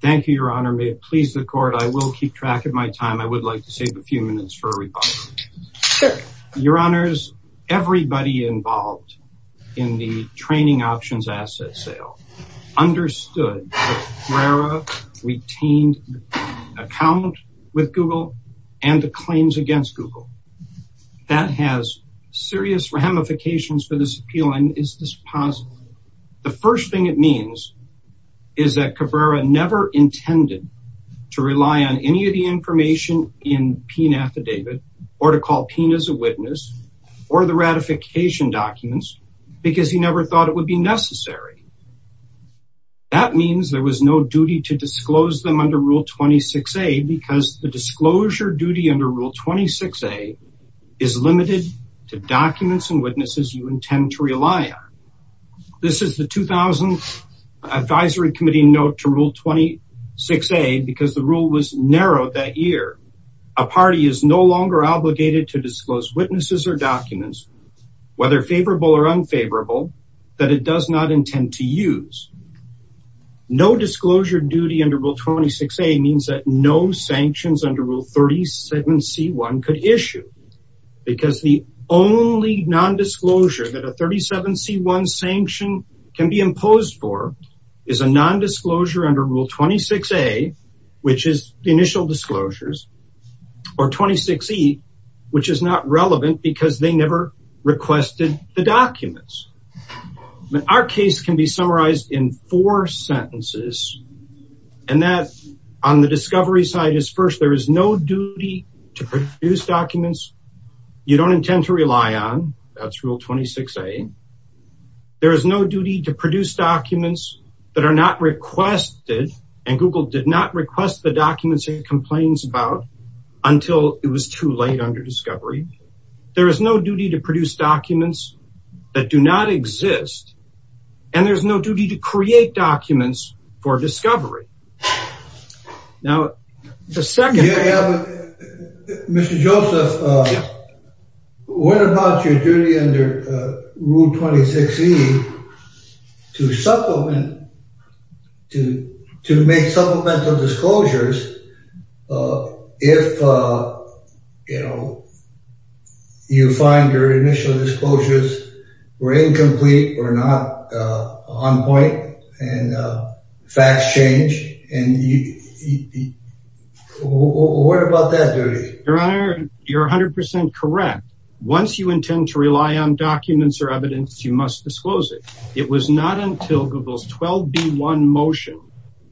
Thank you, Your Honor. May it please the court, I will keep track of my time. I would like to save a few minutes for a rebuttal. Your Honors, everybody involved in the training options asset sale understood that Cabrera retained an account with Google and the claims against Google. That has serious ramifications for this appeal. And is this possible? The first thing it means is that Cabrera never intended to rely on any of the information in PIN affidavit or to call PIN as a witness or the ratification documents because he never thought it would be necessary. That means there was no duty to disclose them under Rule 26a because the disclosure duty under Rule 26a is limited to documents and witnesses you intend to rely on. This is the 2000 Advisory Committee note to Rule 26a because the rule was narrowed that year. A party is no longer obligated to disclose witnesses or documents, whether favorable or unfavorable, that it does intend to use. No disclosure duty under Rule 26a means that no sanctions under Rule 37c1 could issue because the only nondisclosure that a 37c1 sanction can be imposed for is a nondisclosure under Rule 26a, which is the initial disclosures or 26e, which is not relevant because they never requested the documents. Our case can be summarized in four sentences, and that on the discovery side is first, there is no duty to produce documents you don't intend to rely on. That's Rule 26a. There is no duty to produce documents that are not requested, and Google did not request the documents it complains about until it was too late under discovery. There is no duty to produce documents that do not exist, and there's no duty to create documents for discovery. Now, the second... Mr. Joseph, what about your duty under Rule 26e to supplement, to make supplemental disclosures if, you know, you find your initial disclosures were incomplete or not on point and facts change, and what about that duty? Your Honor, you're 100% correct. Once you intend to rely on documents or evidence, you must disclose it. It was not until Google's 12b1 motion,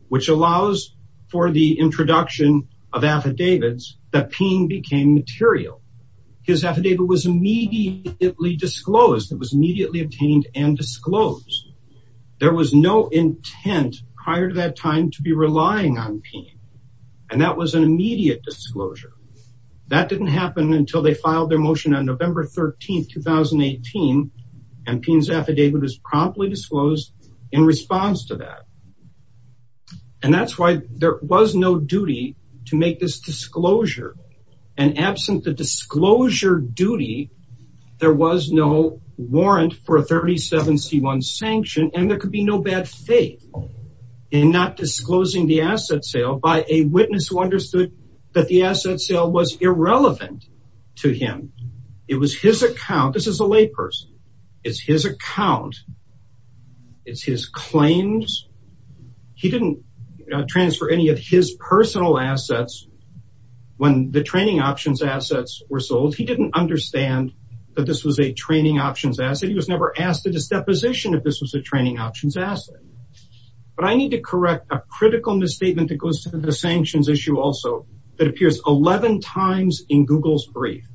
which allows for the introduction of affidavits, that Peen became material. His affidavit was immediately disclosed. It was immediately obtained and disclosed. There was no intent prior to that time to be relying on Peen, and that was an immediate disclosure. That didn't happen until they filed their motion on November 13, 2018, and Peen's affidavit was promptly disclosed in response to that, and that's why there was no duty to make this disclosure, and absent the disclosure duty, there was no warrant for a 37c1 sanction, and there could be no bad faith in not disclosing the asset sale by a witness who understood that the asset sale was irrelevant to him. It was his account. This is a layperson. It's his account. It's his claims. He didn't transfer any of his personal assets when the training options assets were sold. He didn't understand that this was a training options asset. He was never asked at his deposition if this was a training options asset, but I need to correct a critical misstatement that goes to the sanctions issue also that appears 11 times in Google's brief,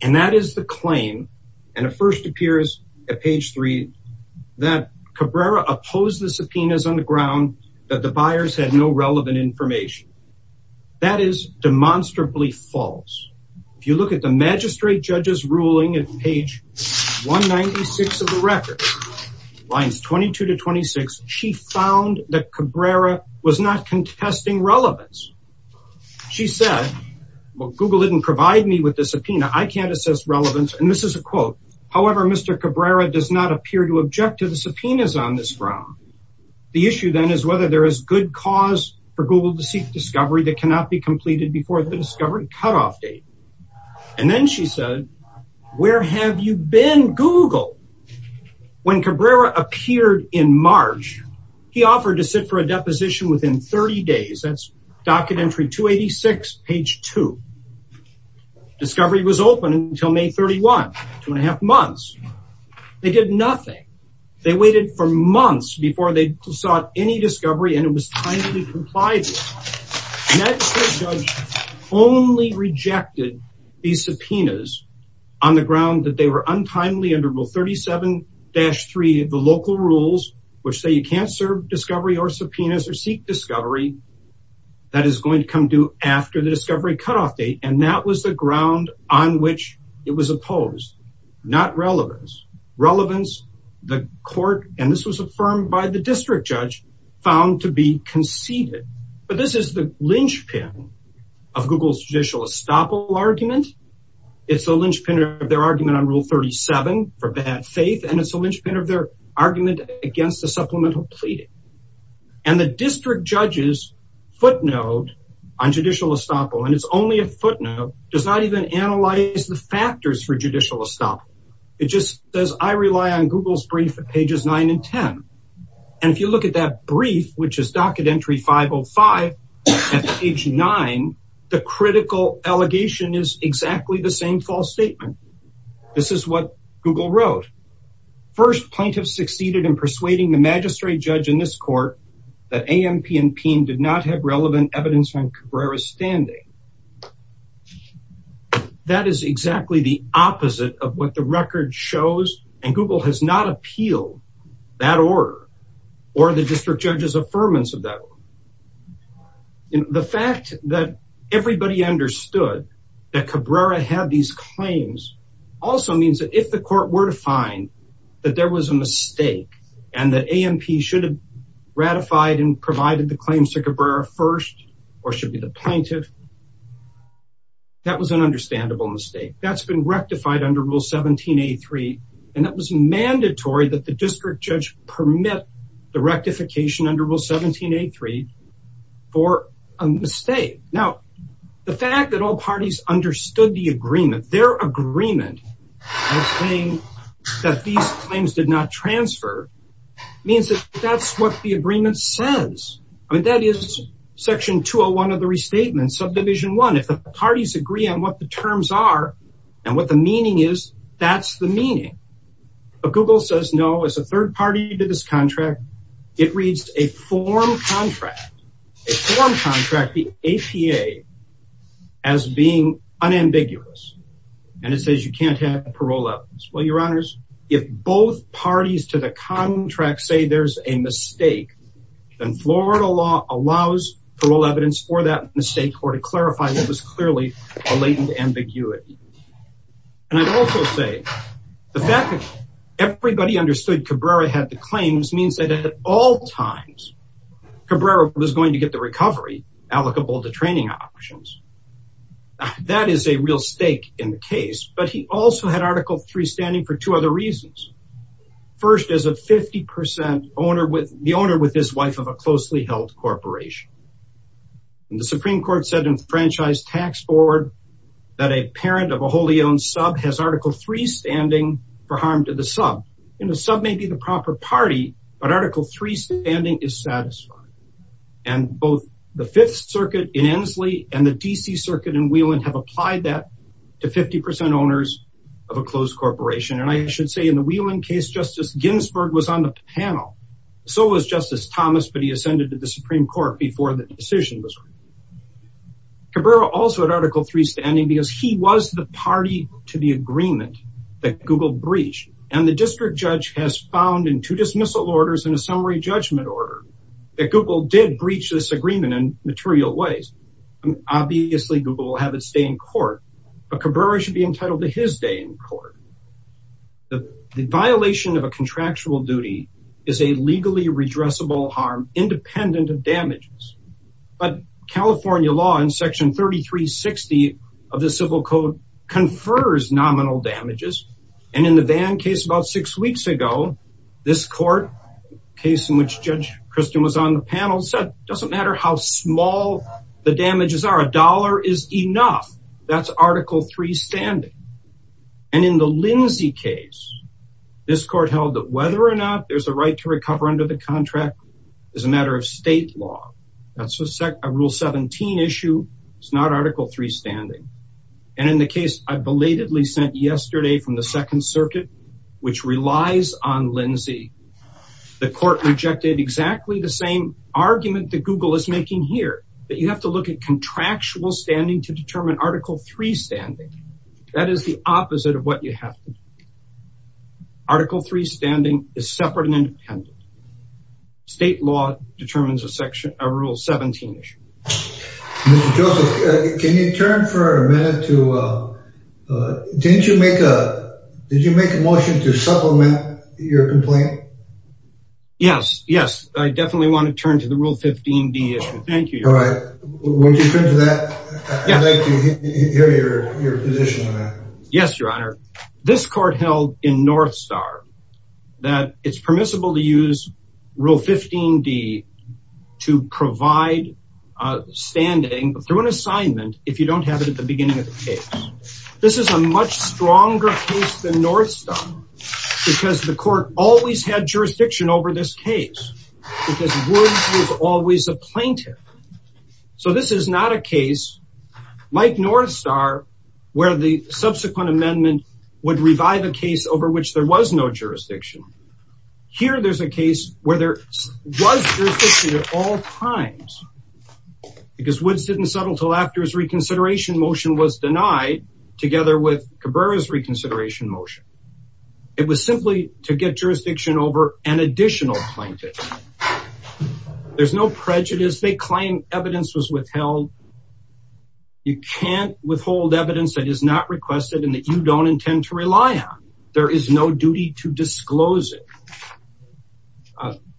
and that is the claim, and it first appears at page three that Cabrera opposed the subpoenas on the ground that the buyers had no relevant information. That is demonstrably false. If you look at the magistrate judge's ruling at page 196 of the she found that Cabrera was not contesting relevance. She said, well, Google didn't provide me with the subpoena. I can't assess relevance, and this is a quote. However, Mr. Cabrera does not appear to object to the subpoenas on this ground. The issue then is whether there is good cause for Google to seek discovery that cannot be completed before the discovery cutoff date, and then she said, where have you been, Google? When Cabrera appeared in March, he offered to sit for a deposition within 30 days. That's docket entry 286, page two. Discovery was open until May 31, two and a half months. They did nothing. They waited for months before they sought any discovery, and it was time to be complied with. That judge only rejected these subpoenas on the ground that they were untimely under rule 37-3 of the local rules, which say you can't serve discovery or subpoenas or seek discovery. That is going to come due after the discovery cutoff date, and that was the ground on which it was opposed, not relevance. Relevance, the court, and this was affirmed by the district judge, found to be conceded, but this is the linchpin of Google's judicial estoppel argument. It's a linchpin of their argument on rule 37 for bad faith, and it's a linchpin of their argument against the supplemental pleading, and the district judge's footnote on judicial estoppel, and it's only a footnote, does not even analyze the factors for judicial estoppel. It just says, I rely on Google's brief at pages nine and ten, and if you look at that brief, which is docket entry 505 at page nine, the critical allegation is exactly the same false statement. This is what Google wrote. First, plaintiffs succeeded in persuading the magistrate judge in this court that AMP and PIN did not have relevant evidence on Cabrera's standing. That is exactly the opposite of what the record shows, and Google has not appealed that order or the district judge's affirmance of that. The fact that everybody understood that Cabrera had these claims also means that if the court were to find that there was a mistake and that AMP should have ratified and provided the claims to Cabrera first, or should be the plaintiff, that was an understandable mistake. That's been rectified under rule 17A3, and that was mandatory that the district judge permit the rectification under rule 17A3 for a mistake. Now, the fact that all parties understood the agreement, their agreement of saying that these claims did not transfer, means that that's what the section 201 of the restatement, subdivision one, if the parties agree on what the terms are and what the meaning is, that's the meaning. But Google says, no, as a third party to this contract, it reads a form contract, a form contract, the APA, as being unambiguous. And it says you can't have parole evidence. Well, your honors, if both parties to the contract say there's a mistake, then Florida law allows parole evidence for that mistake or to clarify that was clearly a latent ambiguity. And I'd also say the fact that everybody understood Cabrera had the claims means that at all times Cabrera was going to get the recovery allocable to training options. That is a real stake in the case, but he also had Article III standing for two other reasons. First, as a 50% owner with the owner, with his wife of a closely held corporation. And the Supreme Court said in the Franchise Tax Board that a parent of a wholly owned sub has Article III standing for harm to the sub. And the sub may be the proper party, but Article III standing is satisfied. And both the Fifth Circuit in Ensley and the DC Circuit in Wheeland have Justice Ginsburg was on the panel. So was Justice Thomas, but he ascended to the Supreme Court before the decision was made. Cabrera also had Article III standing because he was the party to the agreement that Google breached. And the district judge has found in two dismissal orders and a summary judgment order that Google did breach this agreement in material ways. Obviously, Google will have its day in court, but Cabrera should be entitled to his day in court. The violation of a contractual duty is a legally redressable harm, independent of damages. But California law in section 3360 of the civil code confers nominal damages. And in the Van case about six weeks ago, this court case in which Judge Christian was on the panel said, doesn't matter how small the damages are, a dollar is enough. That's Article III standing. And in the Lindsay case, this court held that whether or not there's a right to recover under the contract is a matter of state law. That's a rule 17 issue. It's not Article III standing. And in the case I belatedly sent yesterday from the Second Circuit, which relies on Lindsay, the court rejected exactly the same argument that Google is making here, that you have to look at contractual standing to determine Article III standing. That is the opposite of what you have to do. Article III standing is separate and independent. State law determines a section, a rule 17 issue. Mr. Joseph, can you turn for a minute to, didn't you make a, did you make a motion to supplement your complaint? Yes. Yes. I definitely want to turn to the Rule 15D issue. Thank you. All right. Would you turn to that? I'd like to hear your position on that. Yes, Your Honor. This court held in Northstar that it's permissible to use Rule 15D to provide standing through an assignment if you don't have it at the beginning of the case. This is a much stronger case than Northstar because the court always had jurisdiction over this case because Woods was always a plaintiff. So this is not a case, Mike Northstar, where the subsequent amendment would revive a case over which there was no jurisdiction. Here there's a case where there was jurisdiction at all times because Woods didn't settle until his reconsideration motion was denied together with Cabrera's reconsideration motion. It was simply to get jurisdiction over an additional plaintiff. There's no prejudice. They claim evidence was withheld. You can't withhold evidence that is not requested and that you don't intend to rely on. There is no duty to disclose it.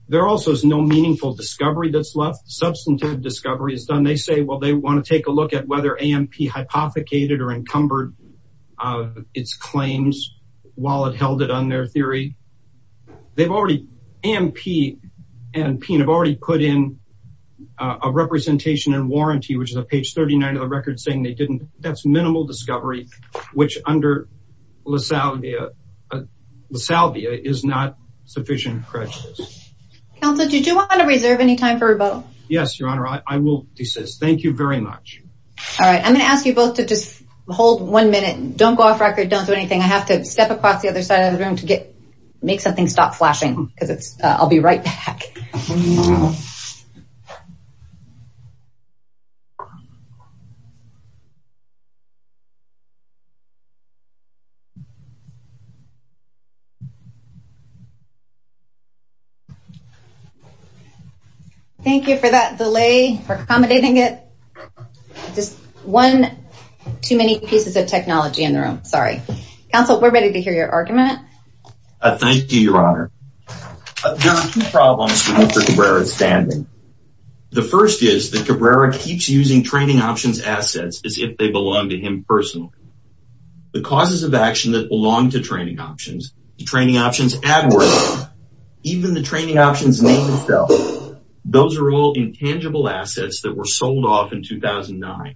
There also is no meaningful discovery that's left. Substantive discovery is done. They say, they want to take a look at whether AMP hypothecated or encumbered its claims while it held it on their theory. AMP and Peen have already put in a representation and warranty, which is on page 39 of the record saying they didn't. That's minimal discovery, which under Lasalvia is not sufficient prejudice. Counselor, did you want to reserve any time for this? I'm going to ask you both to hold one minute. Don't go off record. Don't do anything. I have to step across the other side of the room to make something stop flashing. I'll be right back. Okay. Thank you for that delay, for accommodating it. Just one too many pieces of technology in the room. Sorry. Counsel, we're ready to hear your argument. Thank you, your honor. There are two reasons for Cabrera's standing. The first is that Cabrera keeps using training options assets as if they belong to him personally. The causes of action that belong to training options, training options, even the training options name itself, those are all intangible assets that were sold off in 2009.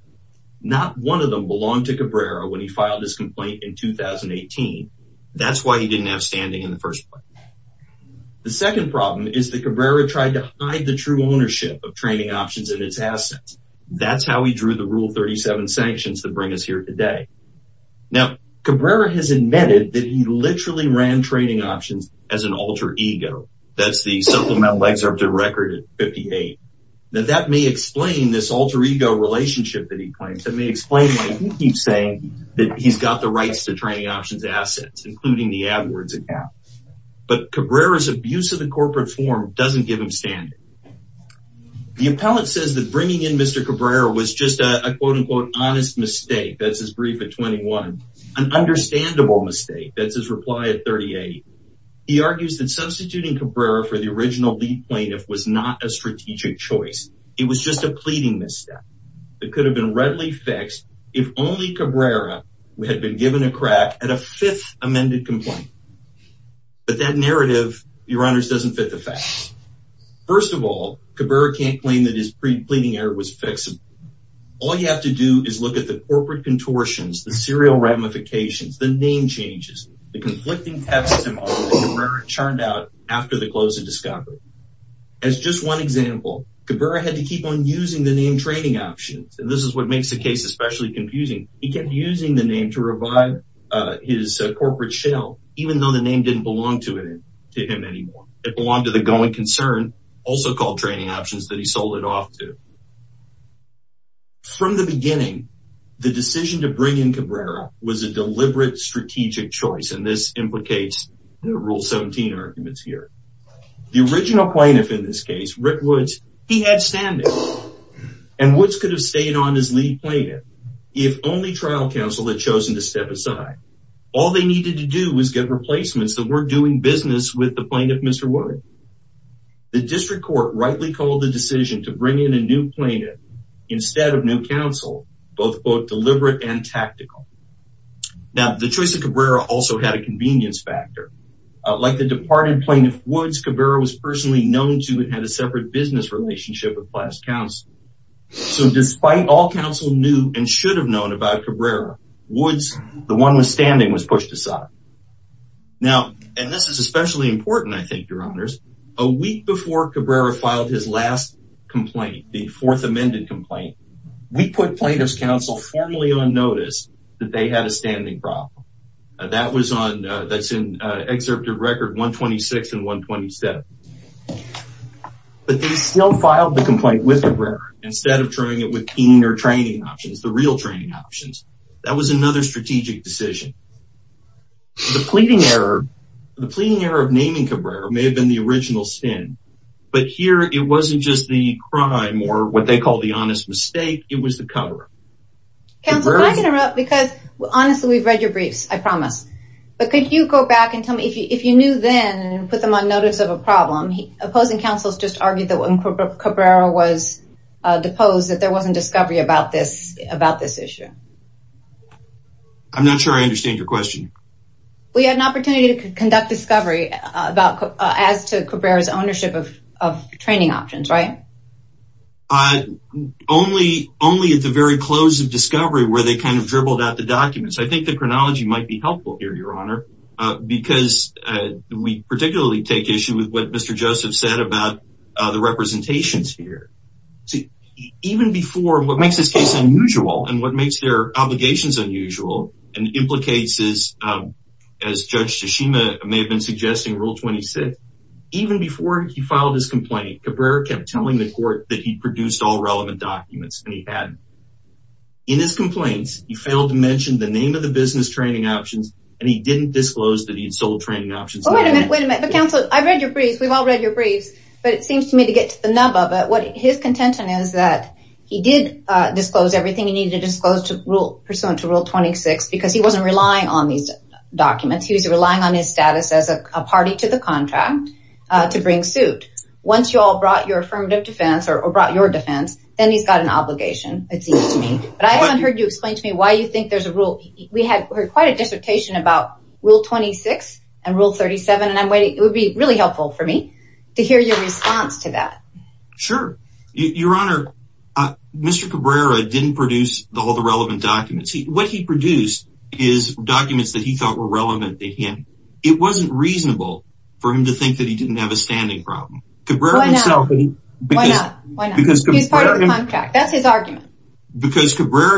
Not one of them belonged to Cabrera when he filed his complaint in 2018. That's why he didn't have standing in the first place. The second problem is that Cabrera tried to hide the true ownership of training options and its assets. That's how he drew the rule 37 sanctions that bring us here today. Now Cabrera has admitted that he literally ran training options as an alter ego. That's the supplemental excerpt of record at 58. Now that may explain this alter ego relationship that he claims. That may explain why he keeps saying that he's got the rights to training options assets, including the AdWords account. But Cabrera's abuse of the corporate form doesn't give him standing. The appellate says that bringing in Mr. Cabrera was just a quote unquote honest mistake. That's his brief at 21. An understandable mistake. That's his reply at 38. He argues that substituting Cabrera for the original lead plaintiff was not a strategic choice. It was just a pleading mistake. It could have been readily fixed if only Cabrera had been given a crack at a fifth amended complaint. But that narrative, your honors, doesn't fit the facts. First of all, Cabrera can't claim that his pre-pleading error was fixed. All you have to do is look at the corporate contortions, the serial ramifications, the name changes, the conflicting testimony that Cabrera churned out after the close of Discovery. As just one example, Cabrera had to keep on using the name training options. And this is what makes the case especially confusing. He kept using the name to revive his corporate shell, even though the name didn't belong to him anymore. It belonged to the going concern, also called training options, that he sold it off to. From the beginning, the decision to bring in Cabrera was a deliberate strategic choice. And this implicates the rule 17 arguments here. The original plaintiff in this case, Rick Woods, could have stayed on as lead plaintiff if only trial counsel had chosen to step aside. All they needed to do was get replacements that weren't doing business with the plaintiff, Mr. Woods. The district court rightly called the decision to bring in a new plaintiff instead of new counsel, both deliberate and tactical. Now, the choice of Cabrera also had a convenience factor. Like the departed plaintiff, Woods, Cabrera was personally known to and had a business relationship with past counsel. So, despite all counsel knew and should have known about Cabrera, Woods, the one with standing, was pushed aside. Now, and this is especially important, I think, your honors, a week before Cabrera filed his last complaint, the fourth amended complaint, we put plaintiff's counsel formally on notice that they had a standing problem. That was on, that's in excerpt of record 126 and 127. But they still filed the complaint with Cabrera instead of trying it with teaming or training options, the real training options. That was another strategic decision. The pleading error, the pleading error of naming Cabrera may have been the original sin, but here it wasn't just the crime or what they call the honest mistake, it was the cover. Counsel, can I interrupt? Because, honestly, we've read your briefs, I promise. But could you go back and tell me, if you knew then and put them on notice of a problem, opposing counsels just argued that when Cabrera was deposed that there wasn't discovery about this, about this issue. I'm not sure I understand your question. We had an opportunity to conduct discovery about, as to Cabrera's ownership of training options, right? Only, only at the very close of discovery where they kind of dribbled out the documents. I think the chronology might be helpful here, your honor, because we particularly take issue with what Mr. Joseph said about the representations here. Even before, what makes this case unusual and what makes their been suggesting rule 26, even before he filed his complaint, Cabrera kept telling the court that he produced all relevant documents and he had. In his complaints, he failed to mention the name of the business training options and he didn't disclose that he had sold training options. Wait a minute, wait a minute, but counsel, I've read your briefs, we've all read your briefs, but it seems to me to get to the nub of it. What his contention is that he did disclose everything he needed to disclose to rule, pursuant to rule 26, because he wasn't relying on these as a party to the contract to bring suit. Once you all brought your affirmative defense or brought your defense, then he's got an obligation, it seems to me, but I haven't heard you explain to me why you think there's a rule. We had quite a dissertation about rule 26 and rule 37, and I'm waiting, it would be really helpful for me to hear your response to that. Sure, your honor, Mr. Cabrera didn't produce all the relevant documents. What he produced is documents that he thought were relevant to him. It wasn't reasonable for him to think that he didn't have a standing problem. Because Cabrera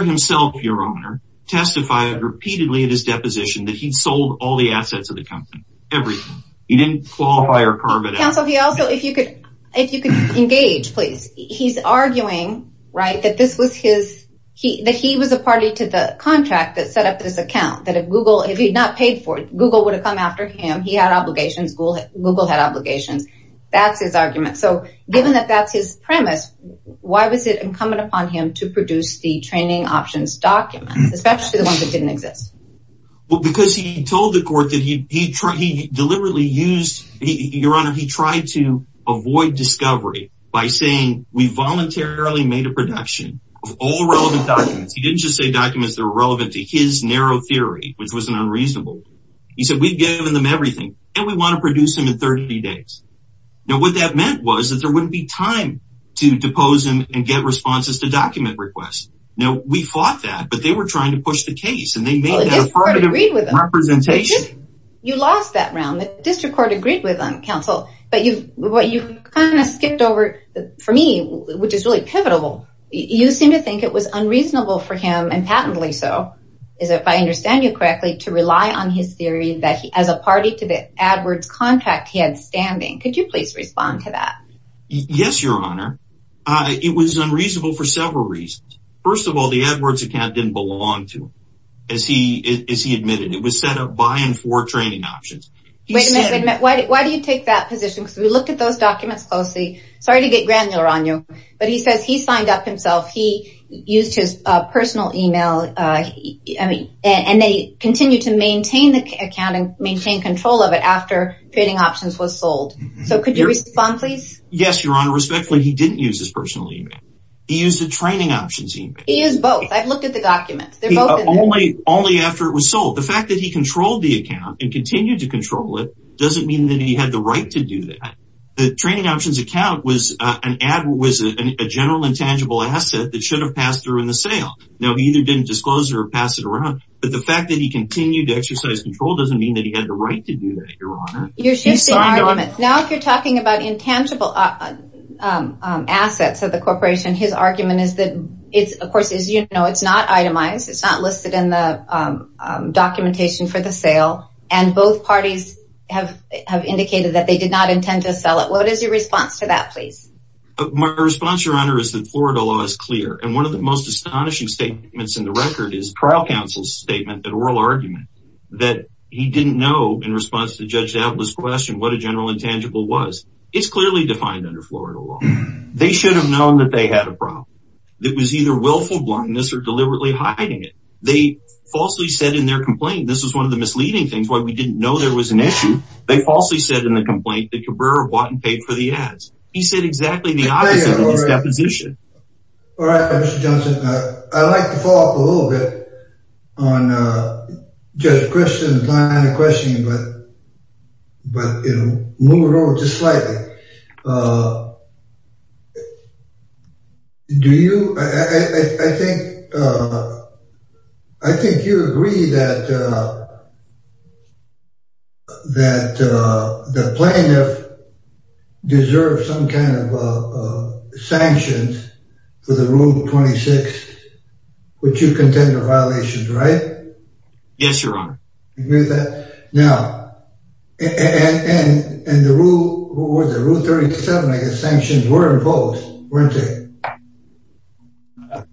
himself, your honor, testified repeatedly at his deposition that he'd sold all the assets of the company, everything. He didn't qualify or carve it out. Counsel, he also, if you could, if you could engage, please, he's arguing, right, that this was his, that he was a party to the contract that set up this account, that if Google, if he'd not paid for it, Google would have come after him. He had obligations. Google had obligations. That's his argument. So given that that's his premise, why was it incumbent upon him to produce the training options documents, especially the ones that didn't exist? Well, because he told the court that he deliberately used, your honor, he tried to avoid discovery by saying we voluntarily made a production of all relevant documents. He didn't just say documents that were relevant to his narrow theory, which was an unreasonable. He said, we've given them everything and we want to produce them in 30 days. Now, what that meant was that there wouldn't be time to depose him and get responses to document requests. Now we fought that, but they were trying to push the case and they made that affirmative representation. You lost that round. The district court agreed with counsel, but you've, what you've kind of skipped over for me, which is really pivotal. You seem to think it was unreasonable for him and patently. So is it, if I understand you correctly to rely on his theory that he, as a party to the AdWords contract, he had standing. Could you please respond to that? Yes, your honor. It was unreasonable for several reasons. First of all, the AdWords account didn't belong to him as he, as he admitted, it was set up by and for training options. Wait a minute. Why do you take that position? Because we looked at those documents closely. Sorry to get granular on you, but he says he signed up himself. He used his personal email. I mean, and they continue to maintain the account and maintain control of it after training options was sold. So could you respond please? Yes, your honor. Respectfully, he didn't use his personal email. He used the training options. He used both. I've looked at the documents. They're both only, only after it was sold. The fact that he controlled the account and continued to control it doesn't mean that he had the right to do that. The training options account was an ad was a general intangible asset that should have passed through in the sale. Now, he either didn't disclose or pass it around, but the fact that he continued to exercise control doesn't mean that he had the right to do that. Your honor. You're shifting arguments. Now, if you're talking about intangible assets of the corporation, his argument is that it's, of course, as you know, it's not itemized. It's not listed in the documentation for the sale. Both parties have indicated that they did not intend to sell it. What is your response to that, please? My response, your honor, is that Florida law is clear. One of the most astonishing statements in the record is trial counsel's statement that oral argument that he didn't know in response to Judge Atlas' question, what a general intangible was. It's clearly defined under Florida law. They should have known that they had a problem. It was either willful blindness or deliberately hiding it. They falsely said in their complaint, this was one of the misleading things, why we didn't know there was an issue. They falsely said in the complaint that Cabrera bought and paid for the ads. He said exactly the opposite of this deposition. All right, Mr. Johnson. I like to follow up a little bit on Judge Christian's line of questioning, but move it over just slightly. I think you agree that the plaintiff deserves some kind of sanctions for the rule 26, which you contend are violations, right? Yes, your honor. Agree with that? Now, and the rule 37, I guess, sanctions were imposed, weren't they?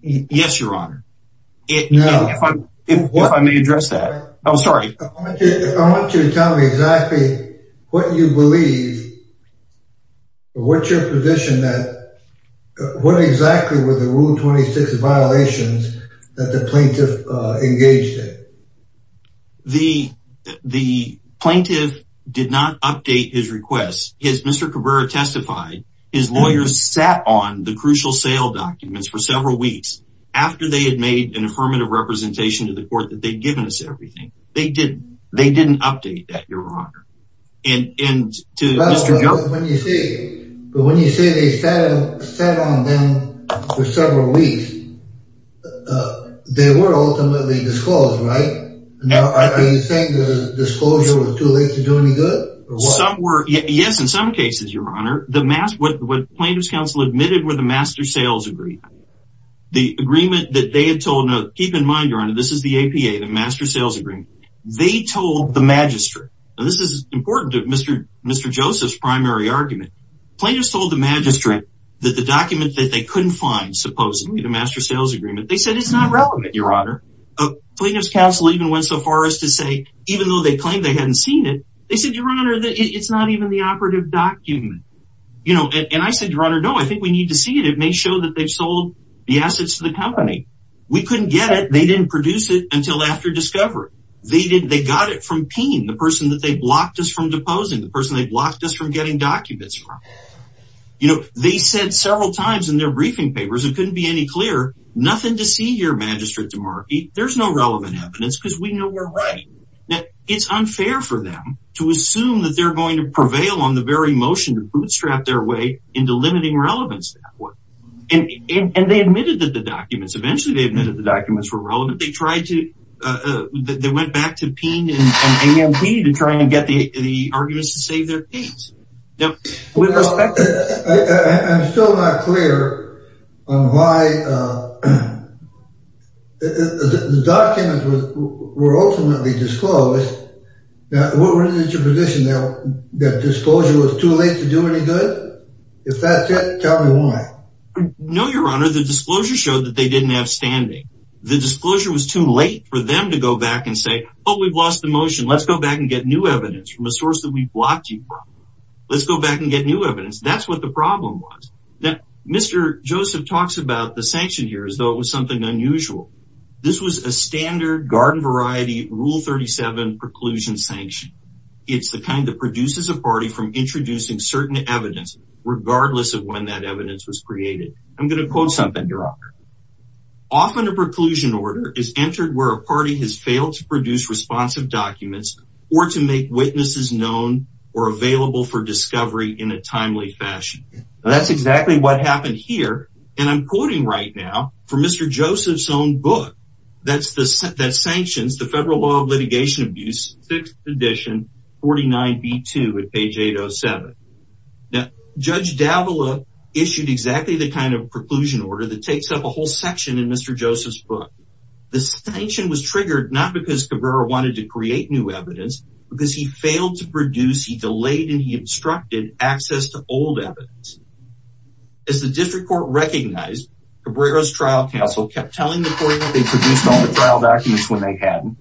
Yes, your honor. If I may address that. I'm sorry. I want you to tell me exactly what you believe, what's your position that, what exactly were the rule 26 violations that the plaintiff engaged in? The plaintiff did not update his request. As Mr. Cabrera testified, his lawyers sat on the crucial sale documents for several weeks after they had made an affirmative representation to the court that they'd given us everything. They didn't. They didn't update that, your honor. And to Mr. Johnson. But when you say they sat on them for several weeks, they were ultimately disclosed, right? Now, are you saying the disclosure was too late to do any good? Some were. Yes, in some cases, your honor, the mass, what plaintiff's counsel admitted were the master sales agreement. The agreement that they had told, keep in mind, your honor, this is the APA, the master sales agreement. They told the magistrate, and this is important to Mr. Joseph's primary argument. Plaintiff's told the magistrate that the document that they couldn't find, supposedly the master sales agreement, they said it's not relevant, your honor. Plaintiff's counsel even went so far as to say, even though they claimed they hadn't seen it, they said, your honor, it's not even the operative document. And I said, your honor, no, I think we need to see it. It may show that they've sold the assets to the company. We couldn't get it. They didn't produce it until after discovery. They got it from Paine, the person that they blocked us from deposing, the person they blocked us from getting documents. They said several times in their briefing papers, it couldn't be any clearer, nothing to see here, Magistrate DeMarco. There's no relevant evidence because we know we're right. Now, it's unfair for them to assume that they're going to prevail on the very motion to bootstrap their way into limiting relevance. And they admitted that the documents, eventually they admitted the documents were relevant. They tried to, they went back to Paine and AMT to try and get the arguments to save their case. I'm still not clear on why the documents were ultimately disclosed. Now, what was your position now that disclosure was too late to do any good? If that's it, tell me why. No, your honor, the disclosure showed that they didn't have standing. The disclosure was too late for them to go back and say, oh, we've lost the motion. Let's go back and get new evidence from a source that we blocked you from. Let's go back and get new evidence. That's what the problem was. Now, Mr. Joseph talks about the sanction here as though it was something unusual. This was a standard garden variety rule 37 preclusion sanction. It's the kind that produces a party from introducing certain evidence, regardless of when that evidence was created. I'm going to quote something, your honor. Often a preclusion order is entered where a party has to make witnesses known or available for discovery in a timely fashion. That's exactly what happened here. I'm quoting right now from Mr. Joseph's own book that sanctions the federal law of litigation abuse, 6th edition, 49B2 at page 807. Judge Davila issued exactly the kind of preclusion order that takes up a whole section in Mr. Joseph's book. The sanction was triggered not because Cabrera wanted to create new evidence, but because he failed to produce, he delayed, and he obstructed access to old evidence. As the district court recognized Cabrera's trial counsel kept telling the court that they produced all the trial documents when they had them.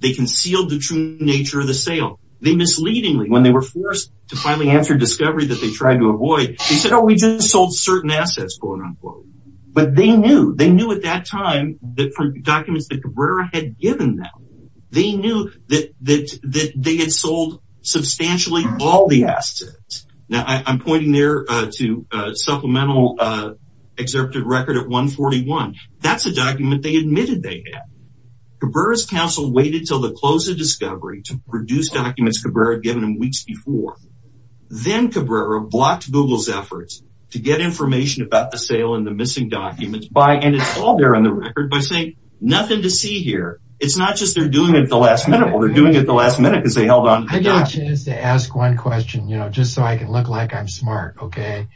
They concealed the true nature of the sale. They misleadingly, when they were forced to finally answer discovery that they tried to avoid, they said, oh, we just sold certain assets, quote unquote. But they knew. They knew at that time that from documents that Cabrera had given them, they knew that they had sold substantially all the assets. Now, I'm pointing there to supplemental executive record at 141. That's a document they admitted they had. Cabrera's counsel waited until the close of discovery to produce documents Cabrera had given them weeks before. Then Cabrera blocked Google's efforts to get information about the sale and the missing documents by, and it's all there on the record, by saying nothing to see here. It's not just they're doing it at the last minute. Well, they're doing it at the last minute because they held on. I get a chance to ask one question, you know, just so I can look like I'm smart, okay?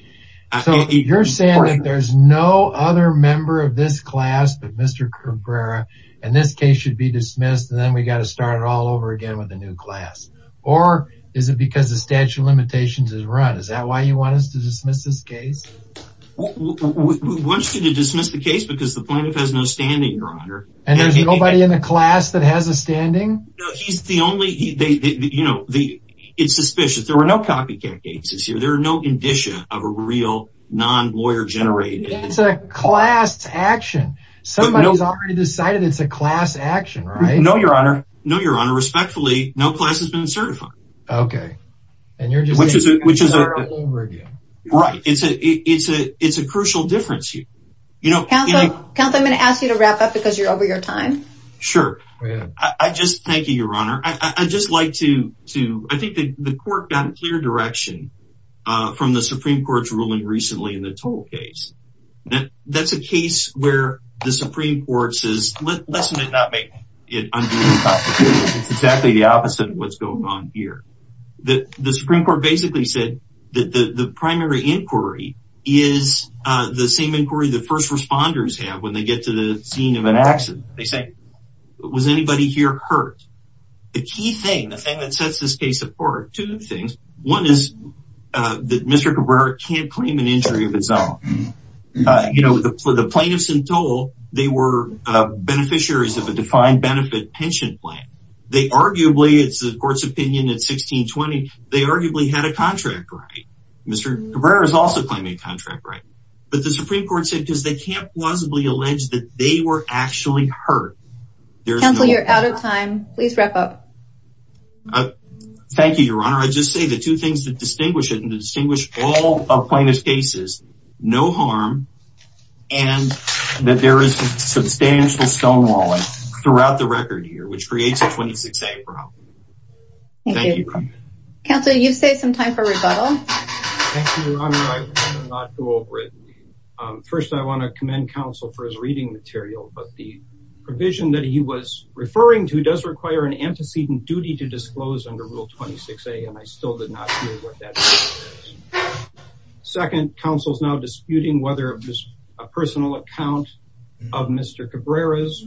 So you're saying that there's no other member of this class but Mr. Cabrera, and this case should be dismissed, and then we got to start all over again with a new class? Or is it because the statute of limitations is run? Is that why you want us to dismiss this case? We want you to dismiss the case because the plaintiff has no standing, your honor. And there's nobody in the class that has a standing? No, he's the only, you know, it's suspicious. There were no copycat cases here. There are no indicia of a real non-lawyer generated. It's a class action. Somebody's already decided it's a class action, right? No, your honor. No, your honor. Respectfully, no class has been certified. Okay. And you're just saying we should start all over again. Right. It's a crucial difference. Counsel, I'm going to ask you to wrap up because you're over your time. Sure. I just, thank you, your honor. I just like to, I think the court got a clear direction from the Supreme Court's ruling recently in the toll case. That's a case where the Supreme Court listened and not make it unbelievable. It's exactly the opposite of what's going on here. The Supreme Court basically said that the primary inquiry is the same inquiry the first responders have when they get to the scene of an accident. They say, was anybody here hurt? The key thing, the thing that sets this case apart, two things. One is that Mr. Cabrera can't claim an injury of beneficiaries of a defined benefit pension plan. They arguably, it's the court's opinion at 1620, they arguably had a contract right. Mr. Cabrera is also claiming a contract right. But the Supreme Court said, because they can't plausibly allege that they were actually hurt. Counsel, you're out of time. Please wrap up. Thank you, your honor. I just say the two things that distinguish it and distinguish all plaintiff's cases, no harm, and that there is substantial stonewalling throughout the record here, which creates a 26A problem. Thank you. Counsel, you've saved some time for rebuttal. Thank you, your honor. I will not go over it. First, I want to commend counsel for his reading material, but the provision that he was referring to does require an antecedent duty to disclose under rule 26A. And I still did not hear what that is. Second, counsel's now disputing whether it was a personal account of Mr. Cabrera's,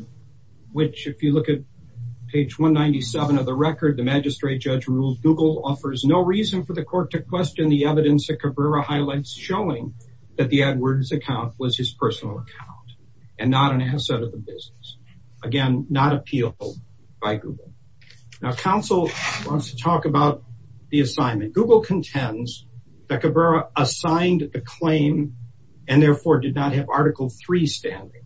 which if you look at page 197 of the record, the magistrate judge ruled Google offers no reason for the court to question the evidence that Cabrera highlights showing that the Edwards account was his personal account and not an asset of the business. Again, not appeal by Google. Now counsel wants to talk about the assignment. Google contends that Cabrera assigned the claim and therefore did not have article three standing.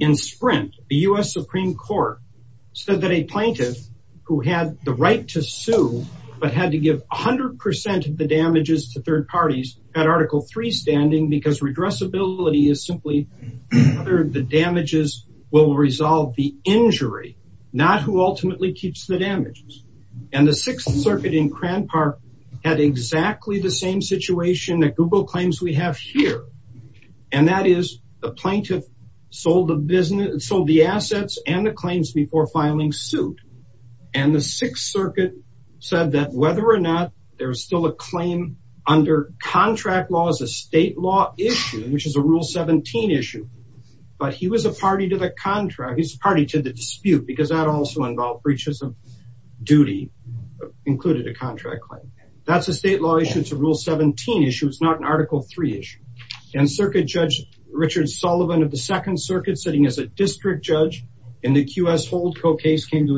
In Sprint, the U.S. Supreme court said that a plaintiff who had the right to sue, but had to give a hundred percent of the damages to third parties had article three as simply the damages will resolve the injury, not who ultimately keeps the damages. And the sixth circuit in Crand Park had exactly the same situation that Google claims we have here. And that is the plaintiff sold the business, sold the assets and the claims before filing suit. And the sixth circuit said that whether or not there was still a claim under contract laws, a state law issue, which is a rule 17 issue, but he was a party to the contract. He's party to the dispute because that also involved breaches of duty included a contract claim. That's a state law issue. It's a rule 17 issue. It's not an article three issue and circuit judge Richard Sullivan of the second circuit sitting as a district judge in the QS hold co-case came to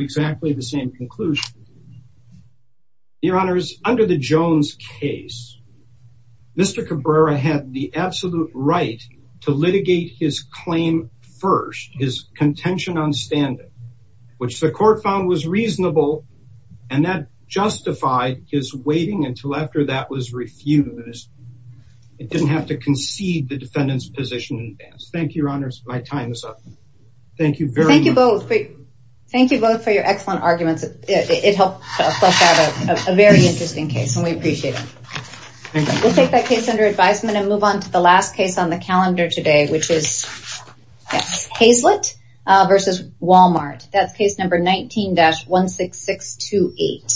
absolute right to litigate his claim first, his contention on standing, which the court found was reasonable and that justified his waiting until after that was refused. It didn't have to concede the defendant's position in advance. Thank you, your honors. My time is up. Thank you very much. Thank you both. Thank you both for your excellent arguments. It helped flush out a very interesting case and we appreciate it. We'll take that case under advisement and move on to the last case on the calendar today, which is Hazlett versus Walmart. That's case number 19-16628.